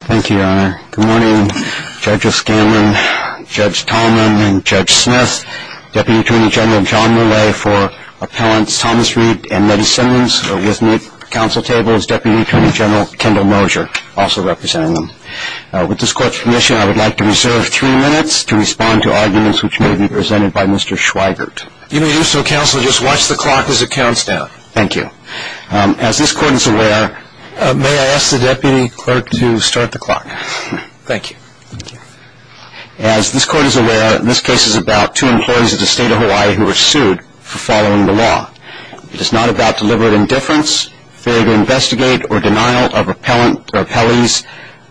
Thank you, Your Honor. Good morning, Judge O'Scanlan, Judge Tallman, and Judge Smith. Deputy Attorney General John Millay for Appellants Thomas Read and Mettie Simmons. With me at the counsel table is Deputy Attorney General Kendall Mosier, also representing them. With this court's permission, I would like to reserve three minutes to respond to arguments which may be presented by Mr. Schweigert. You may do so, counsel. Just watch the clock as it counts down. Thank you. As this court is aware... May I ask the deputy clerk to start the clock? Thank you. As this court is aware, this case is about two employees of the state of Hawaii who were sued for following the law. It is not about deliberate indifference, failure to investigate, or denial of appellees'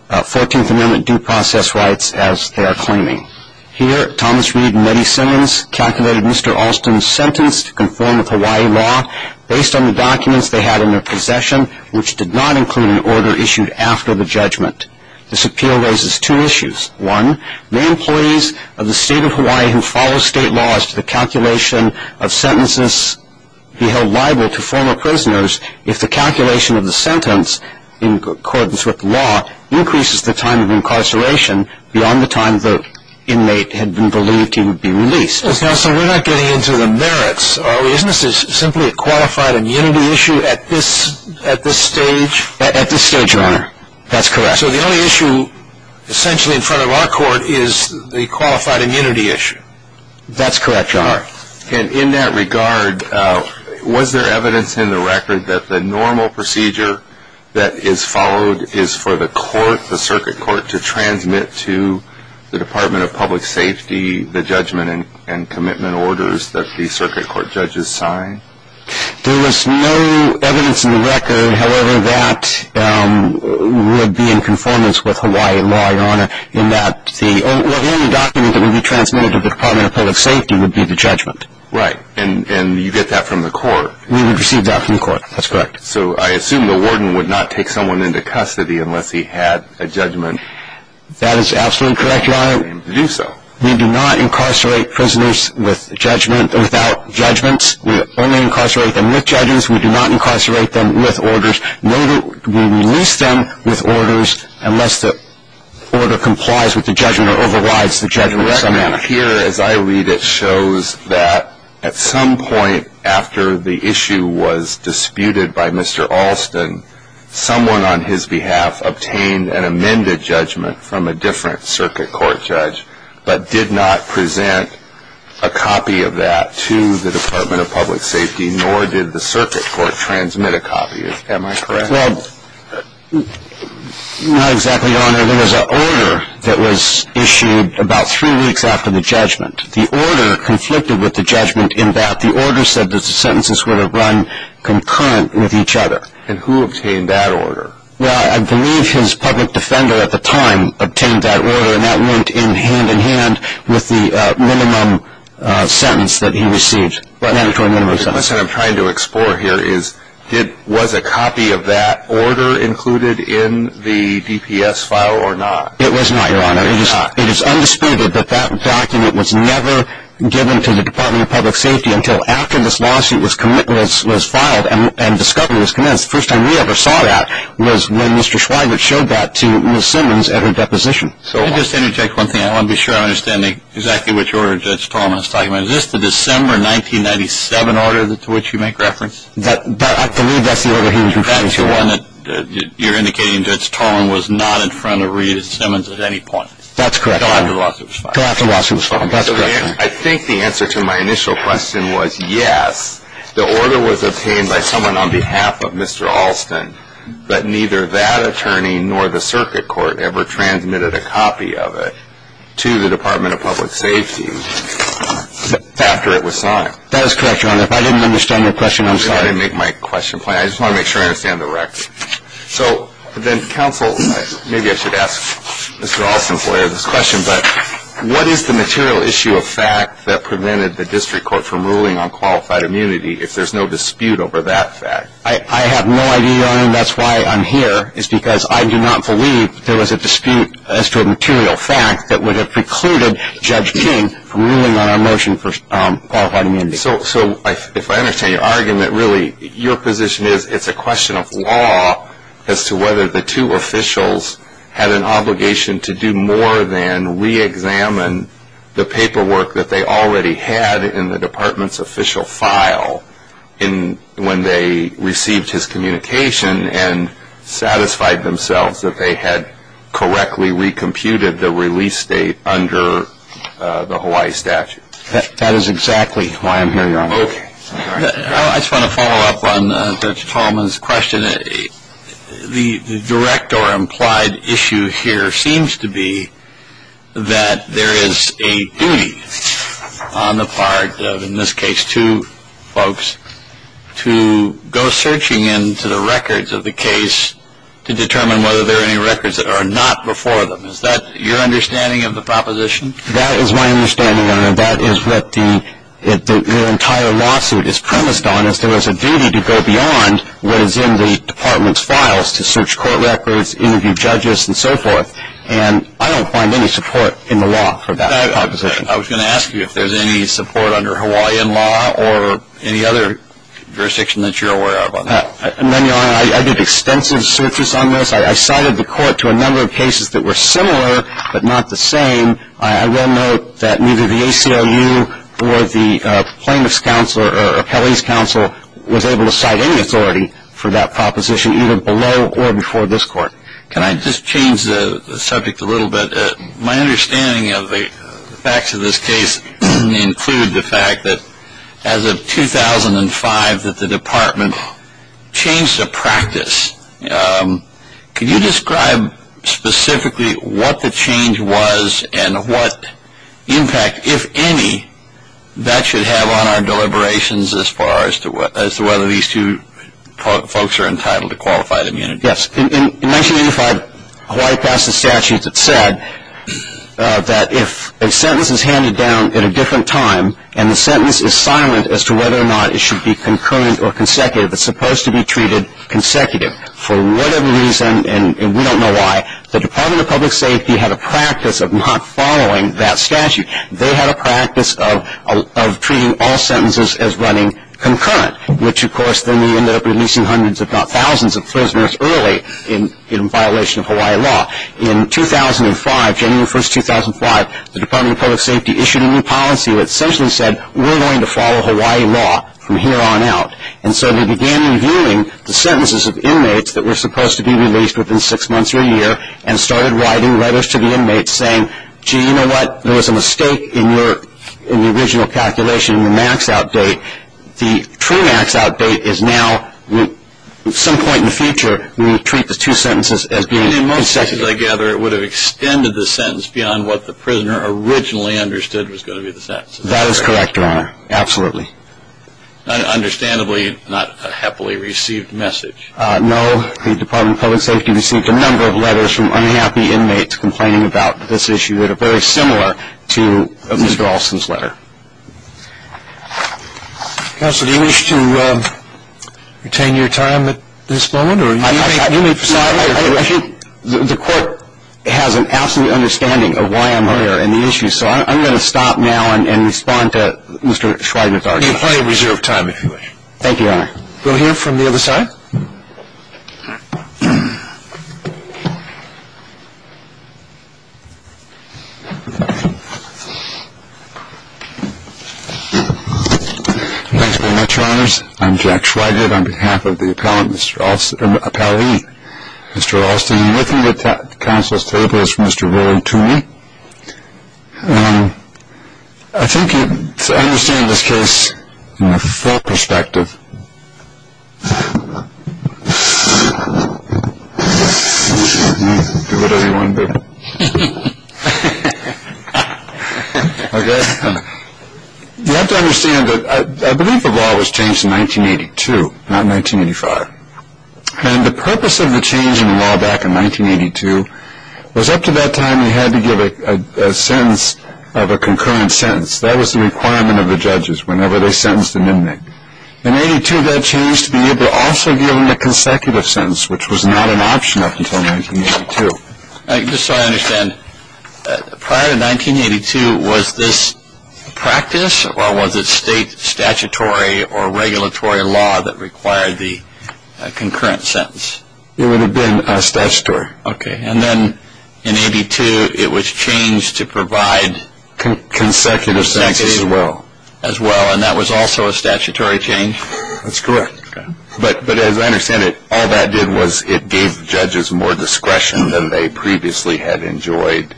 14th Amendment due process rights as they are claiming. Here, Thomas Read and Mettie Simmons calculated Mr. Alston's sentence to conform with Hawaii law based on the documents they had in their possession, which did not include an order issued after the judgment. This appeal raises two issues. One, may employees of the state of Hawaii who follow state laws to the calculation of sentences be held liable to former prisoners if the calculation of the sentence in accordance with law increases the time of incarceration beyond the time the inmate had been believed he would be released? Counsel, we're not getting into the merits, are we? Isn't this simply a qualified immunity issue at this stage? At this stage, Your Honor. That's correct. So the only issue essentially in front of our court is the qualified immunity issue? That's correct, Your Honor. And in that regard, was there evidence in the record that the normal procedure that is followed is for the court, the circuit court, to transmit to the Department of Public Safety the judgment and commitment orders that the circuit court judges sign? There was no evidence in the record, however, that would be in conformance with Hawaiian law, Your Honor, in that the only document that would be transmitted to the Department of Public Safety would be the judgment. Right. And you get that from the court? We would receive that from the court. That's correct. So I assume the warden would not take someone into custody unless he had a judgment? That is absolutely correct, Your Honor. He would not be able to do so. We do not incarcerate prisoners without judgments. We only incarcerate them with judgments. We do not incarcerate them with orders. We release them with orders unless the order complies with the judgment or overrides the judgment in some manner. The record here, as I read it, shows that at some point after the issue was disputed by Mr. Alston, someone on his behalf obtained an amended judgment from a different circuit court judge but did not present a copy of that to the Department of Public Safety, nor did the circuit court transmit a copy. Am I correct? Well, not exactly, Your Honor. There was an order that was issued about three weeks after the judgment. The order conflicted with the judgment in that the order said that the sentences would have run concurrent with each other. And who obtained that order? Well, I believe his public defender at the time obtained that order, and that went in hand-in-hand with the minimum sentence that he received, mandatory minimum sentence. What I'm trying to explore here is was a copy of that order included in the DPS file or not? It was not, Your Honor. It is undisputed that that document was never given to the Department of Public Safety until after this lawsuit was filed and discovery was commenced. The first time we ever saw that was when Mr. Schweigert showed that to Ms. Simmons at her deposition. So I'll just interject one thing. I want to be sure I understand exactly which order Judge Tolman is talking about. Is this the December 1997 order to which you make reference? I believe that's the order he was referring to. That's the one that you're indicating Judge Tolman was not in front of Rita Simmons at any point. That's correct. Until after the lawsuit was filed. Until after the lawsuit was filed. That's correct. I think the answer to my initial question was yes, the order was obtained by someone on behalf of Mr. Alston, but neither that attorney nor the circuit court ever transmitted a copy of it to the Department of Public Safety after it was signed. That is correct, Your Honor. If I didn't understand your question, I'm sorry. I didn't make my question clear. I just want to make sure I understand the record. So then counsel, maybe I should ask Mr. Alston's lawyer this question, but what is the material issue of fact that prevented the district court from ruling on qualified immunity if there's no dispute over that fact? I have no idea, Your Honor, and that's why I'm here. It's because I do not believe there was a dispute as to a material fact that would have precluded Judge King from ruling on our motion for qualified immunity. So if I understand your argument, really your position is it's a question of law as to whether the two officials had an obligation to do more than re-examine the paperwork that they already had in the department's official file when they received his communication and satisfied themselves that they had correctly re-computed the release date under the Hawaii statute. That is exactly why I'm here, Your Honor. Okay. I just want to follow up on Judge Tallman's question. The direct or implied issue here seems to be that there is a duty on the part of, in this case, two folks, to go searching into the records of the case to determine whether there are any records that are not before them. Is that your understanding of the proposition? That is my understanding, Your Honor. And that is what the entire lawsuit is premised on, is there is a duty to go beyond what is in the department's files to search court records, interview judges, and so forth. And I don't find any support in the law for that proposition. I was going to ask you if there's any support under Hawaiian law or any other jurisdiction that you're aware of on that. None, Your Honor. I did extensive searches on this. I cited the court to a number of cases that were similar but not the same. I will note that neither the ACLU or the plaintiff's counsel or appellee's counsel was able to cite any authority for that proposition either below or before this court. Can I just change the subject a little bit? My understanding of the facts of this case include the fact that as of 2005 that the department changed the practice. Can you describe specifically what the change was and what impact, if any, that should have on our deliberations as far as to whether these two folks are entitled to qualified immunity? Yes. In 1985, Hawaii passed a statute that said that if a sentence is handed down at a different time and the sentence is silent as to whether or not it should be concurrent or consecutive, it's supposed to be treated consecutive. For whatever reason, and we don't know why, the Department of Public Safety had a practice of not following that statute. They had a practice of treating all sentences as running concurrent, which, of course, then we ended up releasing hundreds if not thousands of prisoners early in violation of Hawaii law. In 2005, January 1, 2005, the Department of Public Safety issued a new policy that essentially said we're going to follow Hawaii law from here on out. And so we began reviewing the sentences of inmates that were supposed to be released within six months or a year and started writing letters to the inmates saying, gee, you know what, there was a mistake in the original calculation in the max out date. The true max out date is now, at some point in the future, we will treat the two sentences as being consecutive. And in most cases, I gather, it would have extended the sentence beyond what the prisoner originally understood was going to be the sentence. That is correct, Your Honor. Absolutely. Understandably, not a happily received message. No. The Department of Public Safety received a number of letters from unhappy inmates complaining about this issue that are very similar to Mr. Alston's letter. Counsel, do you wish to retain your time at this moment? I think the court has an absolute understanding of why I'm here and the issue, so I'm going to stop now and respond to Mr. Schweigert's argument. You have plenty of reserved time, if you wish. Thank you, Your Honor. We'll hear from the other side. Thanks very much, Your Honors. I'm Jack Schweigert on behalf of the appellee, Mr. Alston. And with me at the counsel's table is Mr. Roland Toomey. I think to understand this case from the full perspective, you have to understand that I believe the law was changed in 1982, not 1985. And the purpose of the change in the law back in 1982 was up to that time you had to give a sentence of a concurrent sentence. That was the requirement of the judges whenever they sentenced an inmate. In 1982, that changed to be able to also give them a consecutive sentence, which was not an option up until 1982. Just so I understand, prior to 1982, was this a practice or was it state statutory or regulatory law that required the concurrent sentence? It would have been statutory. Okay. And then in 1982, it was changed to provide consecutive sentences as well, and that was also a statutory change? That's correct. But as I understand it, all that did was it gave judges more discretion than they previously had enjoyed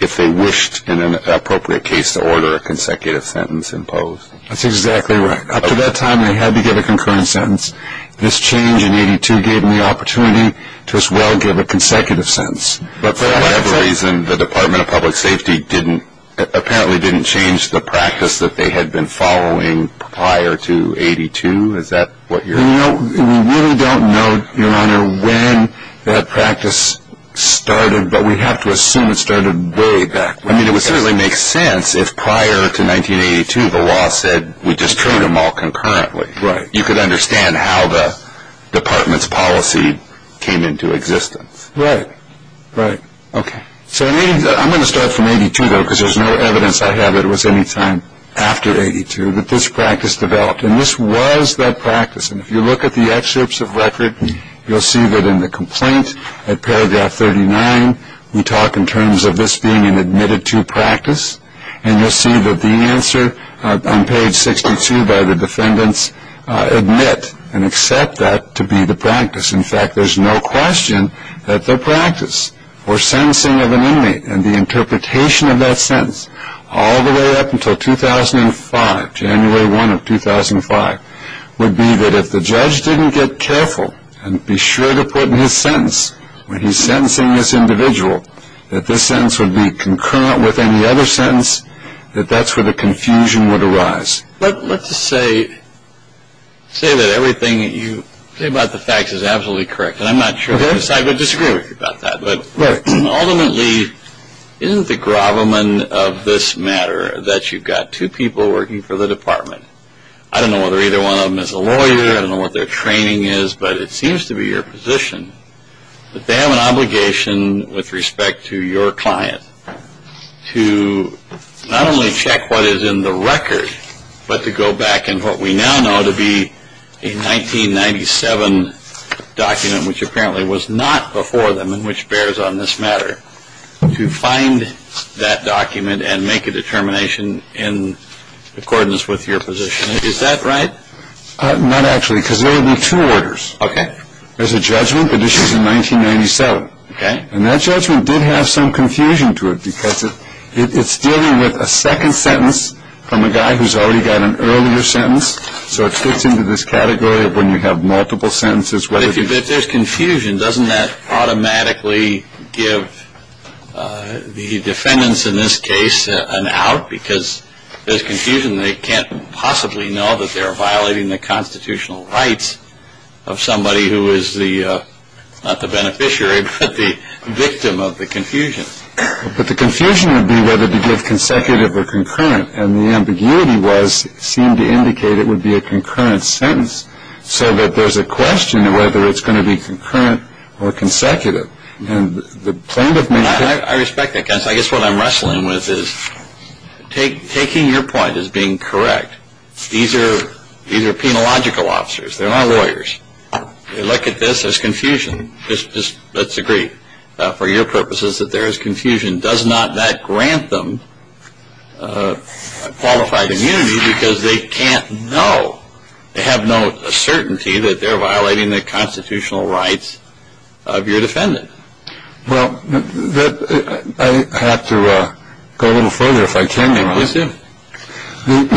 if they wished in an appropriate case to order a consecutive sentence imposed. That's exactly right. Up to that time, they had to give a concurrent sentence. This change in 1982 gave them the opportunity to as well give a consecutive sentence. But for whatever reason, the Department of Public Safety apparently didn't change the practice that they had been following prior to 1982? Is that what you're saying? We really don't know, Your Honor, when that practice started, but we have to assume it started way back when. I mean, it would certainly make sense if prior to 1982, the law said, we just treat them all concurrently. Right. You could understand how the Department's policy came into existence. Right. Right. Okay. I'm going to start from 82, though, because there's no evidence I have that it was any time after 82 that this practice developed. And this was that practice. And if you look at the excerpts of record, you'll see that in the complaint at paragraph 39, we talk in terms of this being an admitted to practice. And you'll see that the answer on page 62 by the defendants admit and accept that to be the practice. In fact, there's no question that the practice or sentencing of an inmate and the interpretation of that sentence all the way up until 2005, January 1 of 2005, would be that if the judge didn't get careful and be sure to put in his sentence when he's sentencing this individual, that this sentence would be concurrent with any other sentence, that that's where the confusion would arise. But let's just say that everything that you say about the facts is absolutely correct. And I'm not sure how to decide, but I disagree with you about that. But ultimately, isn't the gravamen of this matter that you've got two people working for the department? I don't know whether either one of them is a lawyer. I don't know what their training is. But it seems to be your position that they have an obligation with respect to your client to not only check what is in the record, but to go back in what we now know to be a 1997 document, which apparently was not before them and which bears on this matter, to find that document and make a determination in accordance with your position. Is that right? Not actually, because there will be two orders. Okay. There's a judgment that issues in 1997. Okay. And that judgment did have some confusion to it because it's dealing with a second sentence from a guy who's already got an earlier sentence. So it fits into this category of when you have multiple sentences. But if there's confusion, doesn't that automatically give the defendants in this case an out? Because if there's confusion, they can't possibly know that they're violating the constitutional rights of somebody who is the, not the beneficiary, but the victim of the confusion. But the confusion would be whether to give consecutive or concurrent. And the ambiguity seemed to indicate it would be a concurrent sentence, so that there's a question of whether it's going to be concurrent or consecutive. And the plaintiff may. I respect that. I guess what I'm wrestling with is taking your point as being correct. These are penological officers. They're not lawyers. They look at this as confusion. Let's agree for your purposes that there is confusion. Does not that grant them qualified immunity because they can't know. They have no certainty that they're violating the constitutional rights of your defendant. Well, I have to go a little further if I can. Yes, sir. When you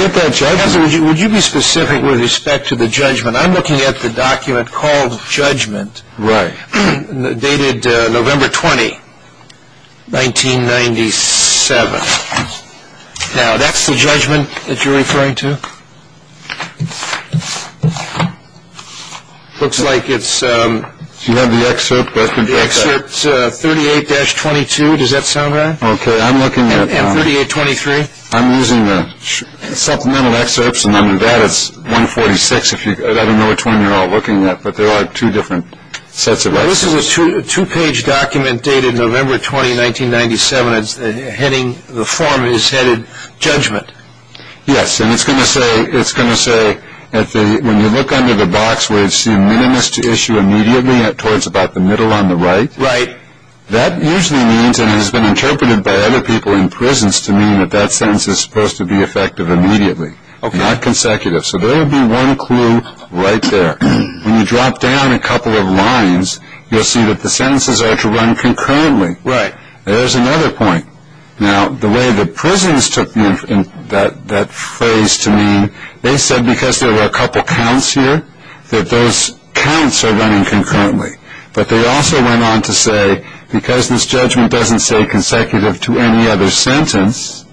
get that judgment, would you be specific with respect to the judgment? I'm looking at the document called judgment. Right. Dated November 20, 1997. Now, that's the judgment that you're referring to. Looks like it's. Do you have the excerpt? Excerpt 38-22. Does that sound right? Okay. I'm looking at. And 38-23. I'm using the supplemental excerpts. And under that, it's 146. I don't know which one you're all looking at, but there are two different sets of. Now, this is a two-page document dated November 20, 1997. The form is headed judgment. Yes, and it's going to say, when you look under the box, we assume minimus to issue immediately towards about the middle on the right. Right. That usually means, and it has been interpreted by other people in prisons, to mean that that sentence is supposed to be effective immediately, not consecutive. So there would be one clue right there. When you drop down a couple of lines, you'll see that the sentences are to run concurrently. Right. There's another point. Now, the way the prisons took that phrase to mean, they said because there were a couple counts here, that those counts are running concurrently. But they also went on to say, because this judgment doesn't say consecutive to any other sentence,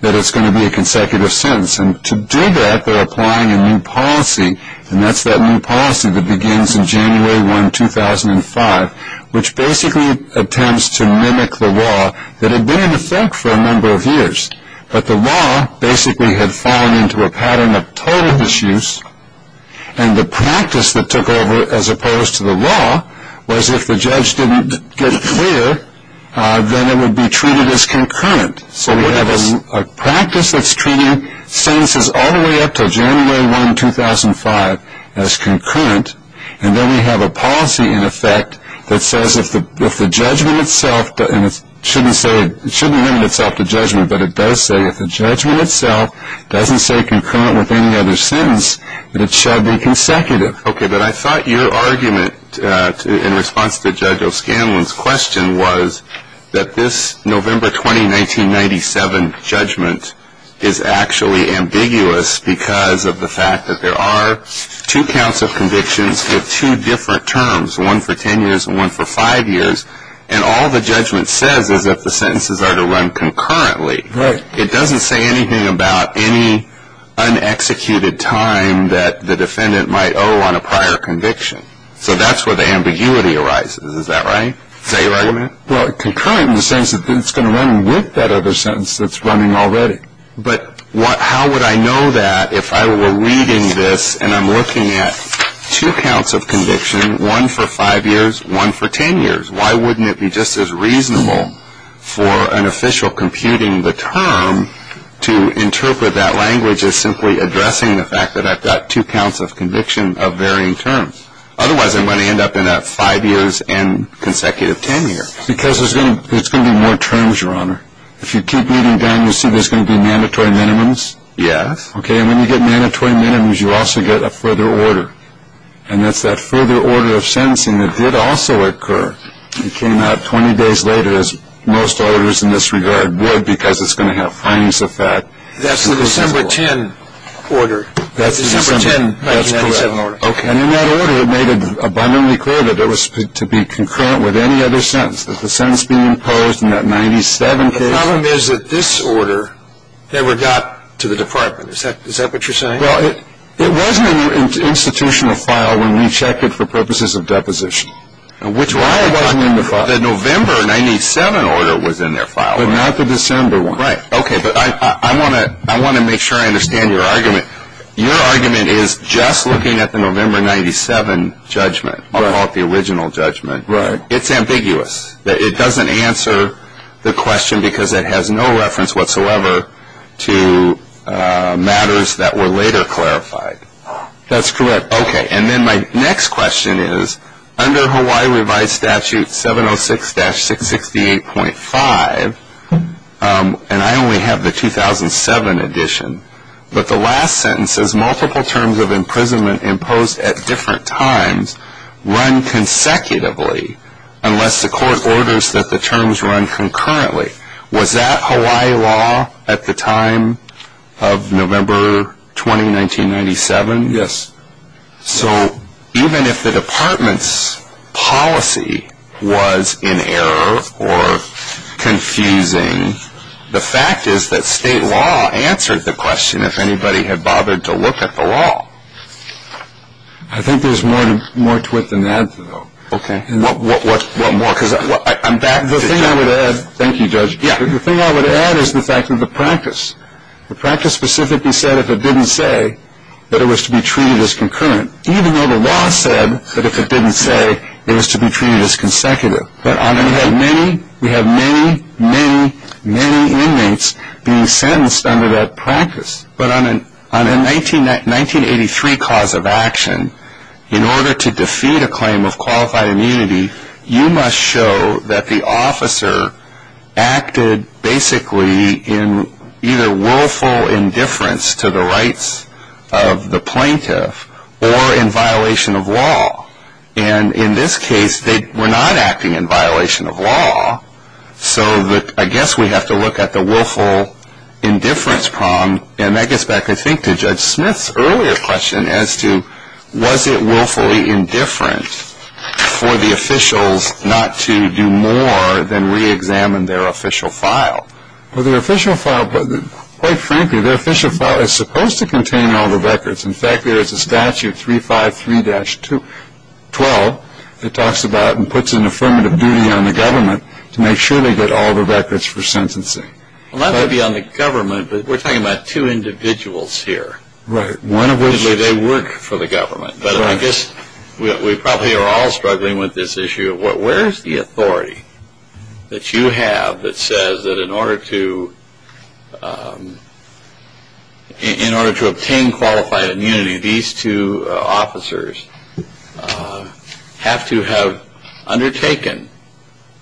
that it's going to be a consecutive sentence. And to do that, they're applying a new policy, and that's that new policy that begins in January 1, 2005, which basically attempts to mimic the law that had been in effect for a number of years. But the law basically had fallen into a pattern of total misuse, and the practice that took over as opposed to the law was if the judge didn't get clear, then it would be treated as concurrent. So we have a practice that's treating sentences all the way up to January 1, 2005, as concurrent, and then we have a policy in effect that says if the judgment itself, and it shouldn't limit itself to judgment, but it does say if the judgment itself doesn't say concurrent with any other sentence, that it shall be consecutive. Okay, but I thought your argument in response to Judge O'Scanlan's question was that this November 20, 1997 judgment is actually ambiguous because of the fact that there are two counts of convictions with two different terms, one for ten years and one for five years, and all the judgment says is that the sentences are to run concurrently. Right. It doesn't say anything about any unexecuted time that the defendant might owe on a prior conviction. So that's where the ambiguity arises. Is that right? Is that your argument? Well, concurrent in the sense that it's going to run with that other sentence that's running already. But how would I know that if I were reading this and I'm looking at two counts of conviction, one for five years, one for ten years? Why wouldn't it be just as reasonable for an official computing the term to interpret that language as simply addressing the fact that I've got two counts of conviction of varying terms? Otherwise, I'm going to end up in a five years and consecutive ten years. Because there's going to be more terms, Your Honor. If you keep reading down, you'll see there's going to be mandatory minimums. Yes. Okay, and when you get mandatory minimums, you also get a further order, and that's that further order of sentencing that did also occur. It came out 20 days later, as most orders in this regard would, because it's going to have findings of that. That's the December 10 order. That's December 10, 1997 order. Okay. And in that order, it made it abundantly clear that it was to be concurrent with any other sentence, that the sentence being imposed in that 1997 case. The problem is that this order never got to the department. Is that what you're saying? Well, it wasn't in the institutional file when we checked it for purposes of deposition. Why wasn't it in the file? The November 1997 order was in their file. But not the December one. Right. Okay, but I want to make sure I understand your argument. Your argument is just looking at the November 1997 judgment, I'll call it the original judgment. Right. It's ambiguous. It doesn't answer the question because it has no reference whatsoever to matters that were later clarified. That's correct. Okay. And then my next question is, under Hawaii revised statute 706-668.5, and I only have the 2007 edition, but the last sentence says multiple terms of imprisonment imposed at different times run consecutively unless the court orders that the terms run concurrently. Was that Hawaii law at the time of November 20, 1997? Yes. So even if the department's policy was in error or confusing, the fact is that state law answered the question if anybody had bothered to look at the law. I think there's more to it than that, though. Okay. What more? Because I'm back to judge. Thank you, Judge. The thing I would add is the fact of the practice. The practice specifically said if it didn't say that it was to be treated as concurrent, even though the law said that if it didn't say it was to be treated as consecutive. We have many, many, many inmates being sentenced under that practice. But on a 1983 cause of action, in order to defeat a claim of qualified immunity, you must show that the officer acted basically in either willful indifference to the rights of the plaintiff or in violation of law. And in this case, they were not acting in violation of law. So I guess we have to look at the willful indifference problem. And that gets back, I think, to Judge Smith's earlier question as to was it willfully indifferent for the officials not to do more than reexamine their official file. Well, their official file, quite frankly, their official file is supposed to contain all the records. In fact, there is a statute 353-12 that talks about and puts an affirmative duty on the government to make sure they get all the records for sentencing. Well, not to be on the government, but we're talking about two individuals here. Right. One of which they work for the government. But I guess we probably are all struggling with this issue. Where is the authority that you have that says that in order to obtain qualified immunity, these two officers have to have undertaken,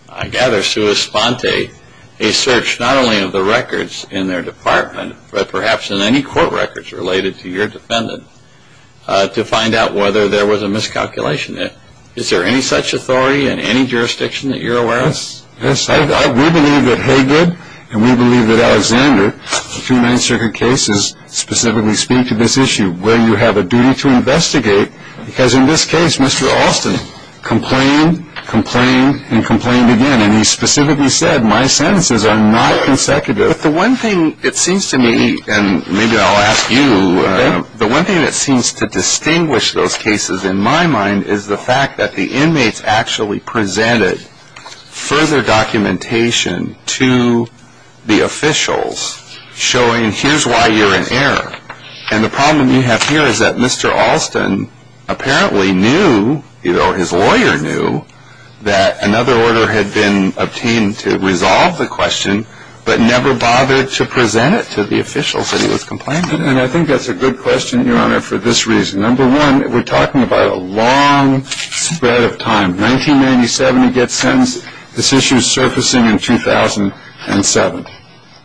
I gather, sua sponte, a search not only of the records in their department, but perhaps in any court records related to your defendant to find out whether there was a miscalculation. Is there any such authority in any jurisdiction that you're aware of? Yes. We believe that Haygood and we believe that Alexander, the two Ninth Circuit cases, specifically speak to this issue where you have a duty to investigate. Because in this case, Mr. Austin complained, complained, and complained again. And he specifically said my sentences are not consecutive. But the one thing it seems to me, and maybe I'll ask you, the one thing that seems to distinguish those cases in my mind is the fact that the inmates actually presented further documentation to the officials showing here's why you're in error. And the problem you have here is that Mr. Austin apparently knew, or his lawyer knew, that another order had been obtained to resolve the question, but never bothered to present it to the officials that he was complaining to. And I think that's a good question, Your Honor, for this reason. Number one, we're talking about a long spread of time. 1997 he gets sentenced. This issue is surfacing in 2007.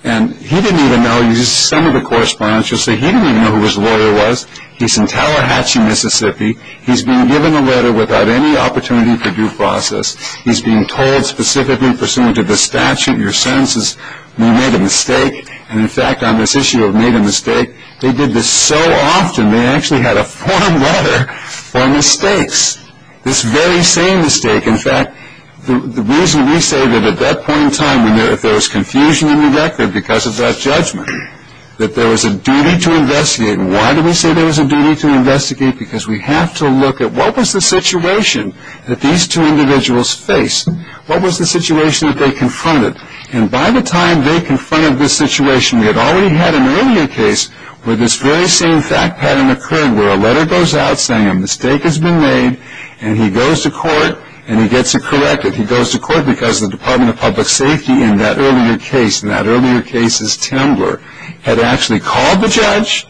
And he didn't even know. Some of the correspondents will say he didn't even know who his lawyer was. He's in Tallahatchie, Mississippi. He's being given a letter without any opportunity for due process. He's being told specifically pursuant to the statute, your sentences, we made a mistake. And, in fact, on this issue of made a mistake, they did this so often, they actually had a form letter for mistakes, this very same mistake. In fact, the reason we say that at that point in time, if there was confusion in the record because of that judgment, that there was a duty to investigate. And why do we say there was a duty to investigate? Because we have to look at what was the situation that these two individuals faced? What was the situation that they confronted? And by the time they confronted this situation, we had already had an earlier case where this very same fact pattern occurred, where a letter goes out saying a mistake has been made, and he goes to court and he gets it corrected. He goes to court because the Department of Public Safety in that earlier case, in that earlier case's timber, had actually called the judge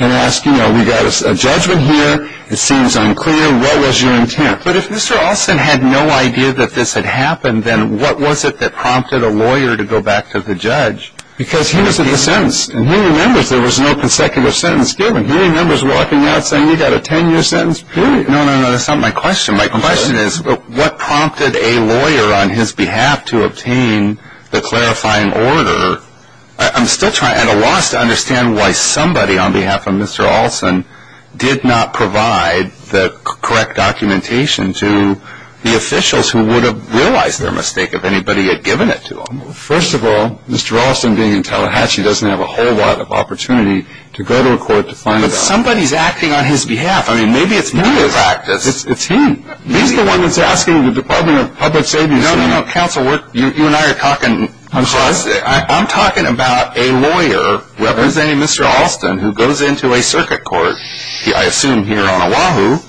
and asked, you know, we've got a judgment here, it seems unclear, what was your intent? But if Mr. Alston had no idea that this had happened, then what was it that prompted a lawyer to go back to the judge? Because he was being sentenced. And he remembers there was no consecutive sentence given. He remembers walking out saying, you've got a 10-year sentence, period. No, no, no, that's not my question. My question is what prompted a lawyer on his behalf to obtain the clarifying order? I'm still trying at a loss to understand why somebody on behalf of Mr. Alston did not provide the correct documentation to the officials who would have realized their mistake if anybody had given it to them. First of all, Mr. Alston, being in Tallahatchie, doesn't have a whole lot of opportunity to go to a court to find out. But somebody's acting on his behalf. I mean, maybe it's me in practice. It's him. He's the one that's asking the Department of Public Safety. No, no, no, counsel, you and I are talking. I'm talking about a lawyer representing Mr. Alston who goes into a circuit court, I assume here on Oahu,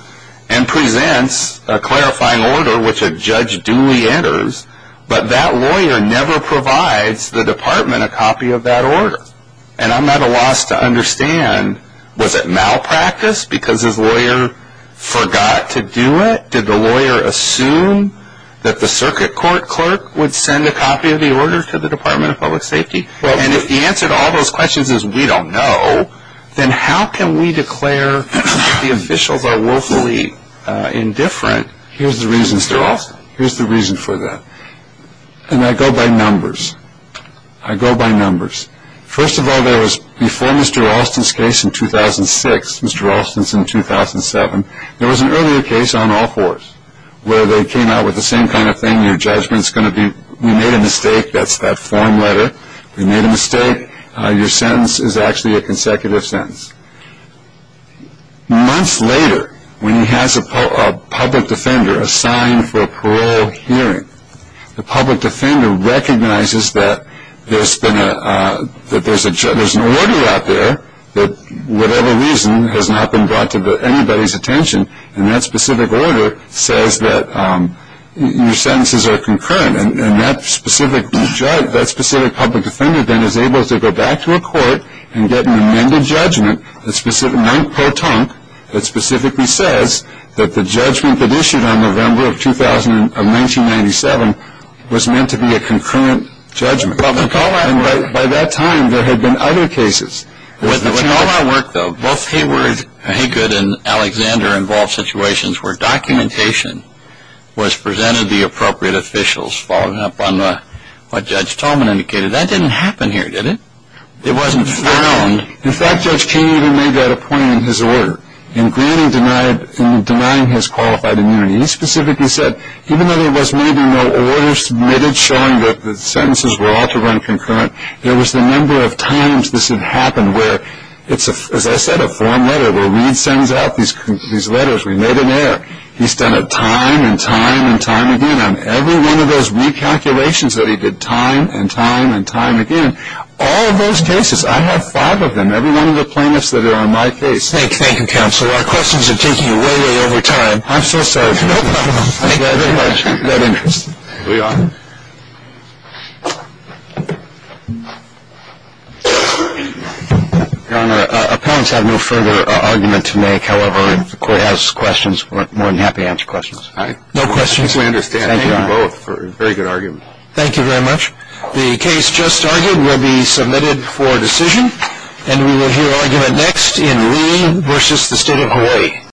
and presents a clarifying order which a judge duly enters, but that lawyer never provides the department a copy of that order. And I'm at a loss to understand, was it malpractice because his lawyer forgot to do it? Did the lawyer assume that the circuit court clerk would send a copy of the order to the Department of Public Safety? And if the answer to all those questions is we don't know, then how can we declare the officials are willfully indifferent? Here's the reason, Mr. Alston. Here's the reason for that. And I go by numbers. I go by numbers. First of all, there was before Mr. Alston's case in 2006, Mr. Alston's in 2007, there was an earlier case on all fours where they came out with the same kind of thing. We made a mistake. That's that form letter. We made a mistake. Your sentence is actually a consecutive sentence. Months later, when he has a public defender assigned for a parole hearing, the public defender recognizes that there's an order out there that whatever reason has not been brought to anybody's attention, and that specific order says that your sentences are concurrent. And that specific public defender then is able to go back to a court and get an amended judgment, a month per ton, that specifically says that the judgment that issued on November of 1997 was meant to be a concurrent judgment. By that time, there had been other cases. With all our work, though, both Haygood and Alexander involved situations where documentation was presented to the appropriate officials, following up on what Judge Tolman indicated. That didn't happen here, did it? It wasn't found. In fact, Judge King even made that a point in his order in denying his qualified immunity. He specifically said even though there was maybe no order submitted showing that the sentences were all to run concurrent, there was the number of times this had happened where, as I said, a form letter where Reed sends out these letters. We made an error. He's done it time and time and time again. On every one of those recalculations that he did time and time and time again, all of those cases, I have five of them, every one of the plaintiffs that are on my case. Thank you, Counselor. Our questions are taking way, way over time. I'm so sorry. No problem. Thank you very much. We are. Your Honor, appellants have no further argument to make. However, if the court has questions, we're more than happy to answer questions. All right. No questions. I think we understand. Thank you, Your Honor. Very good argument. Thank you very much. The case just argued will be submitted for decision, and we will hear argument next in Reed v. The State of Hawaii.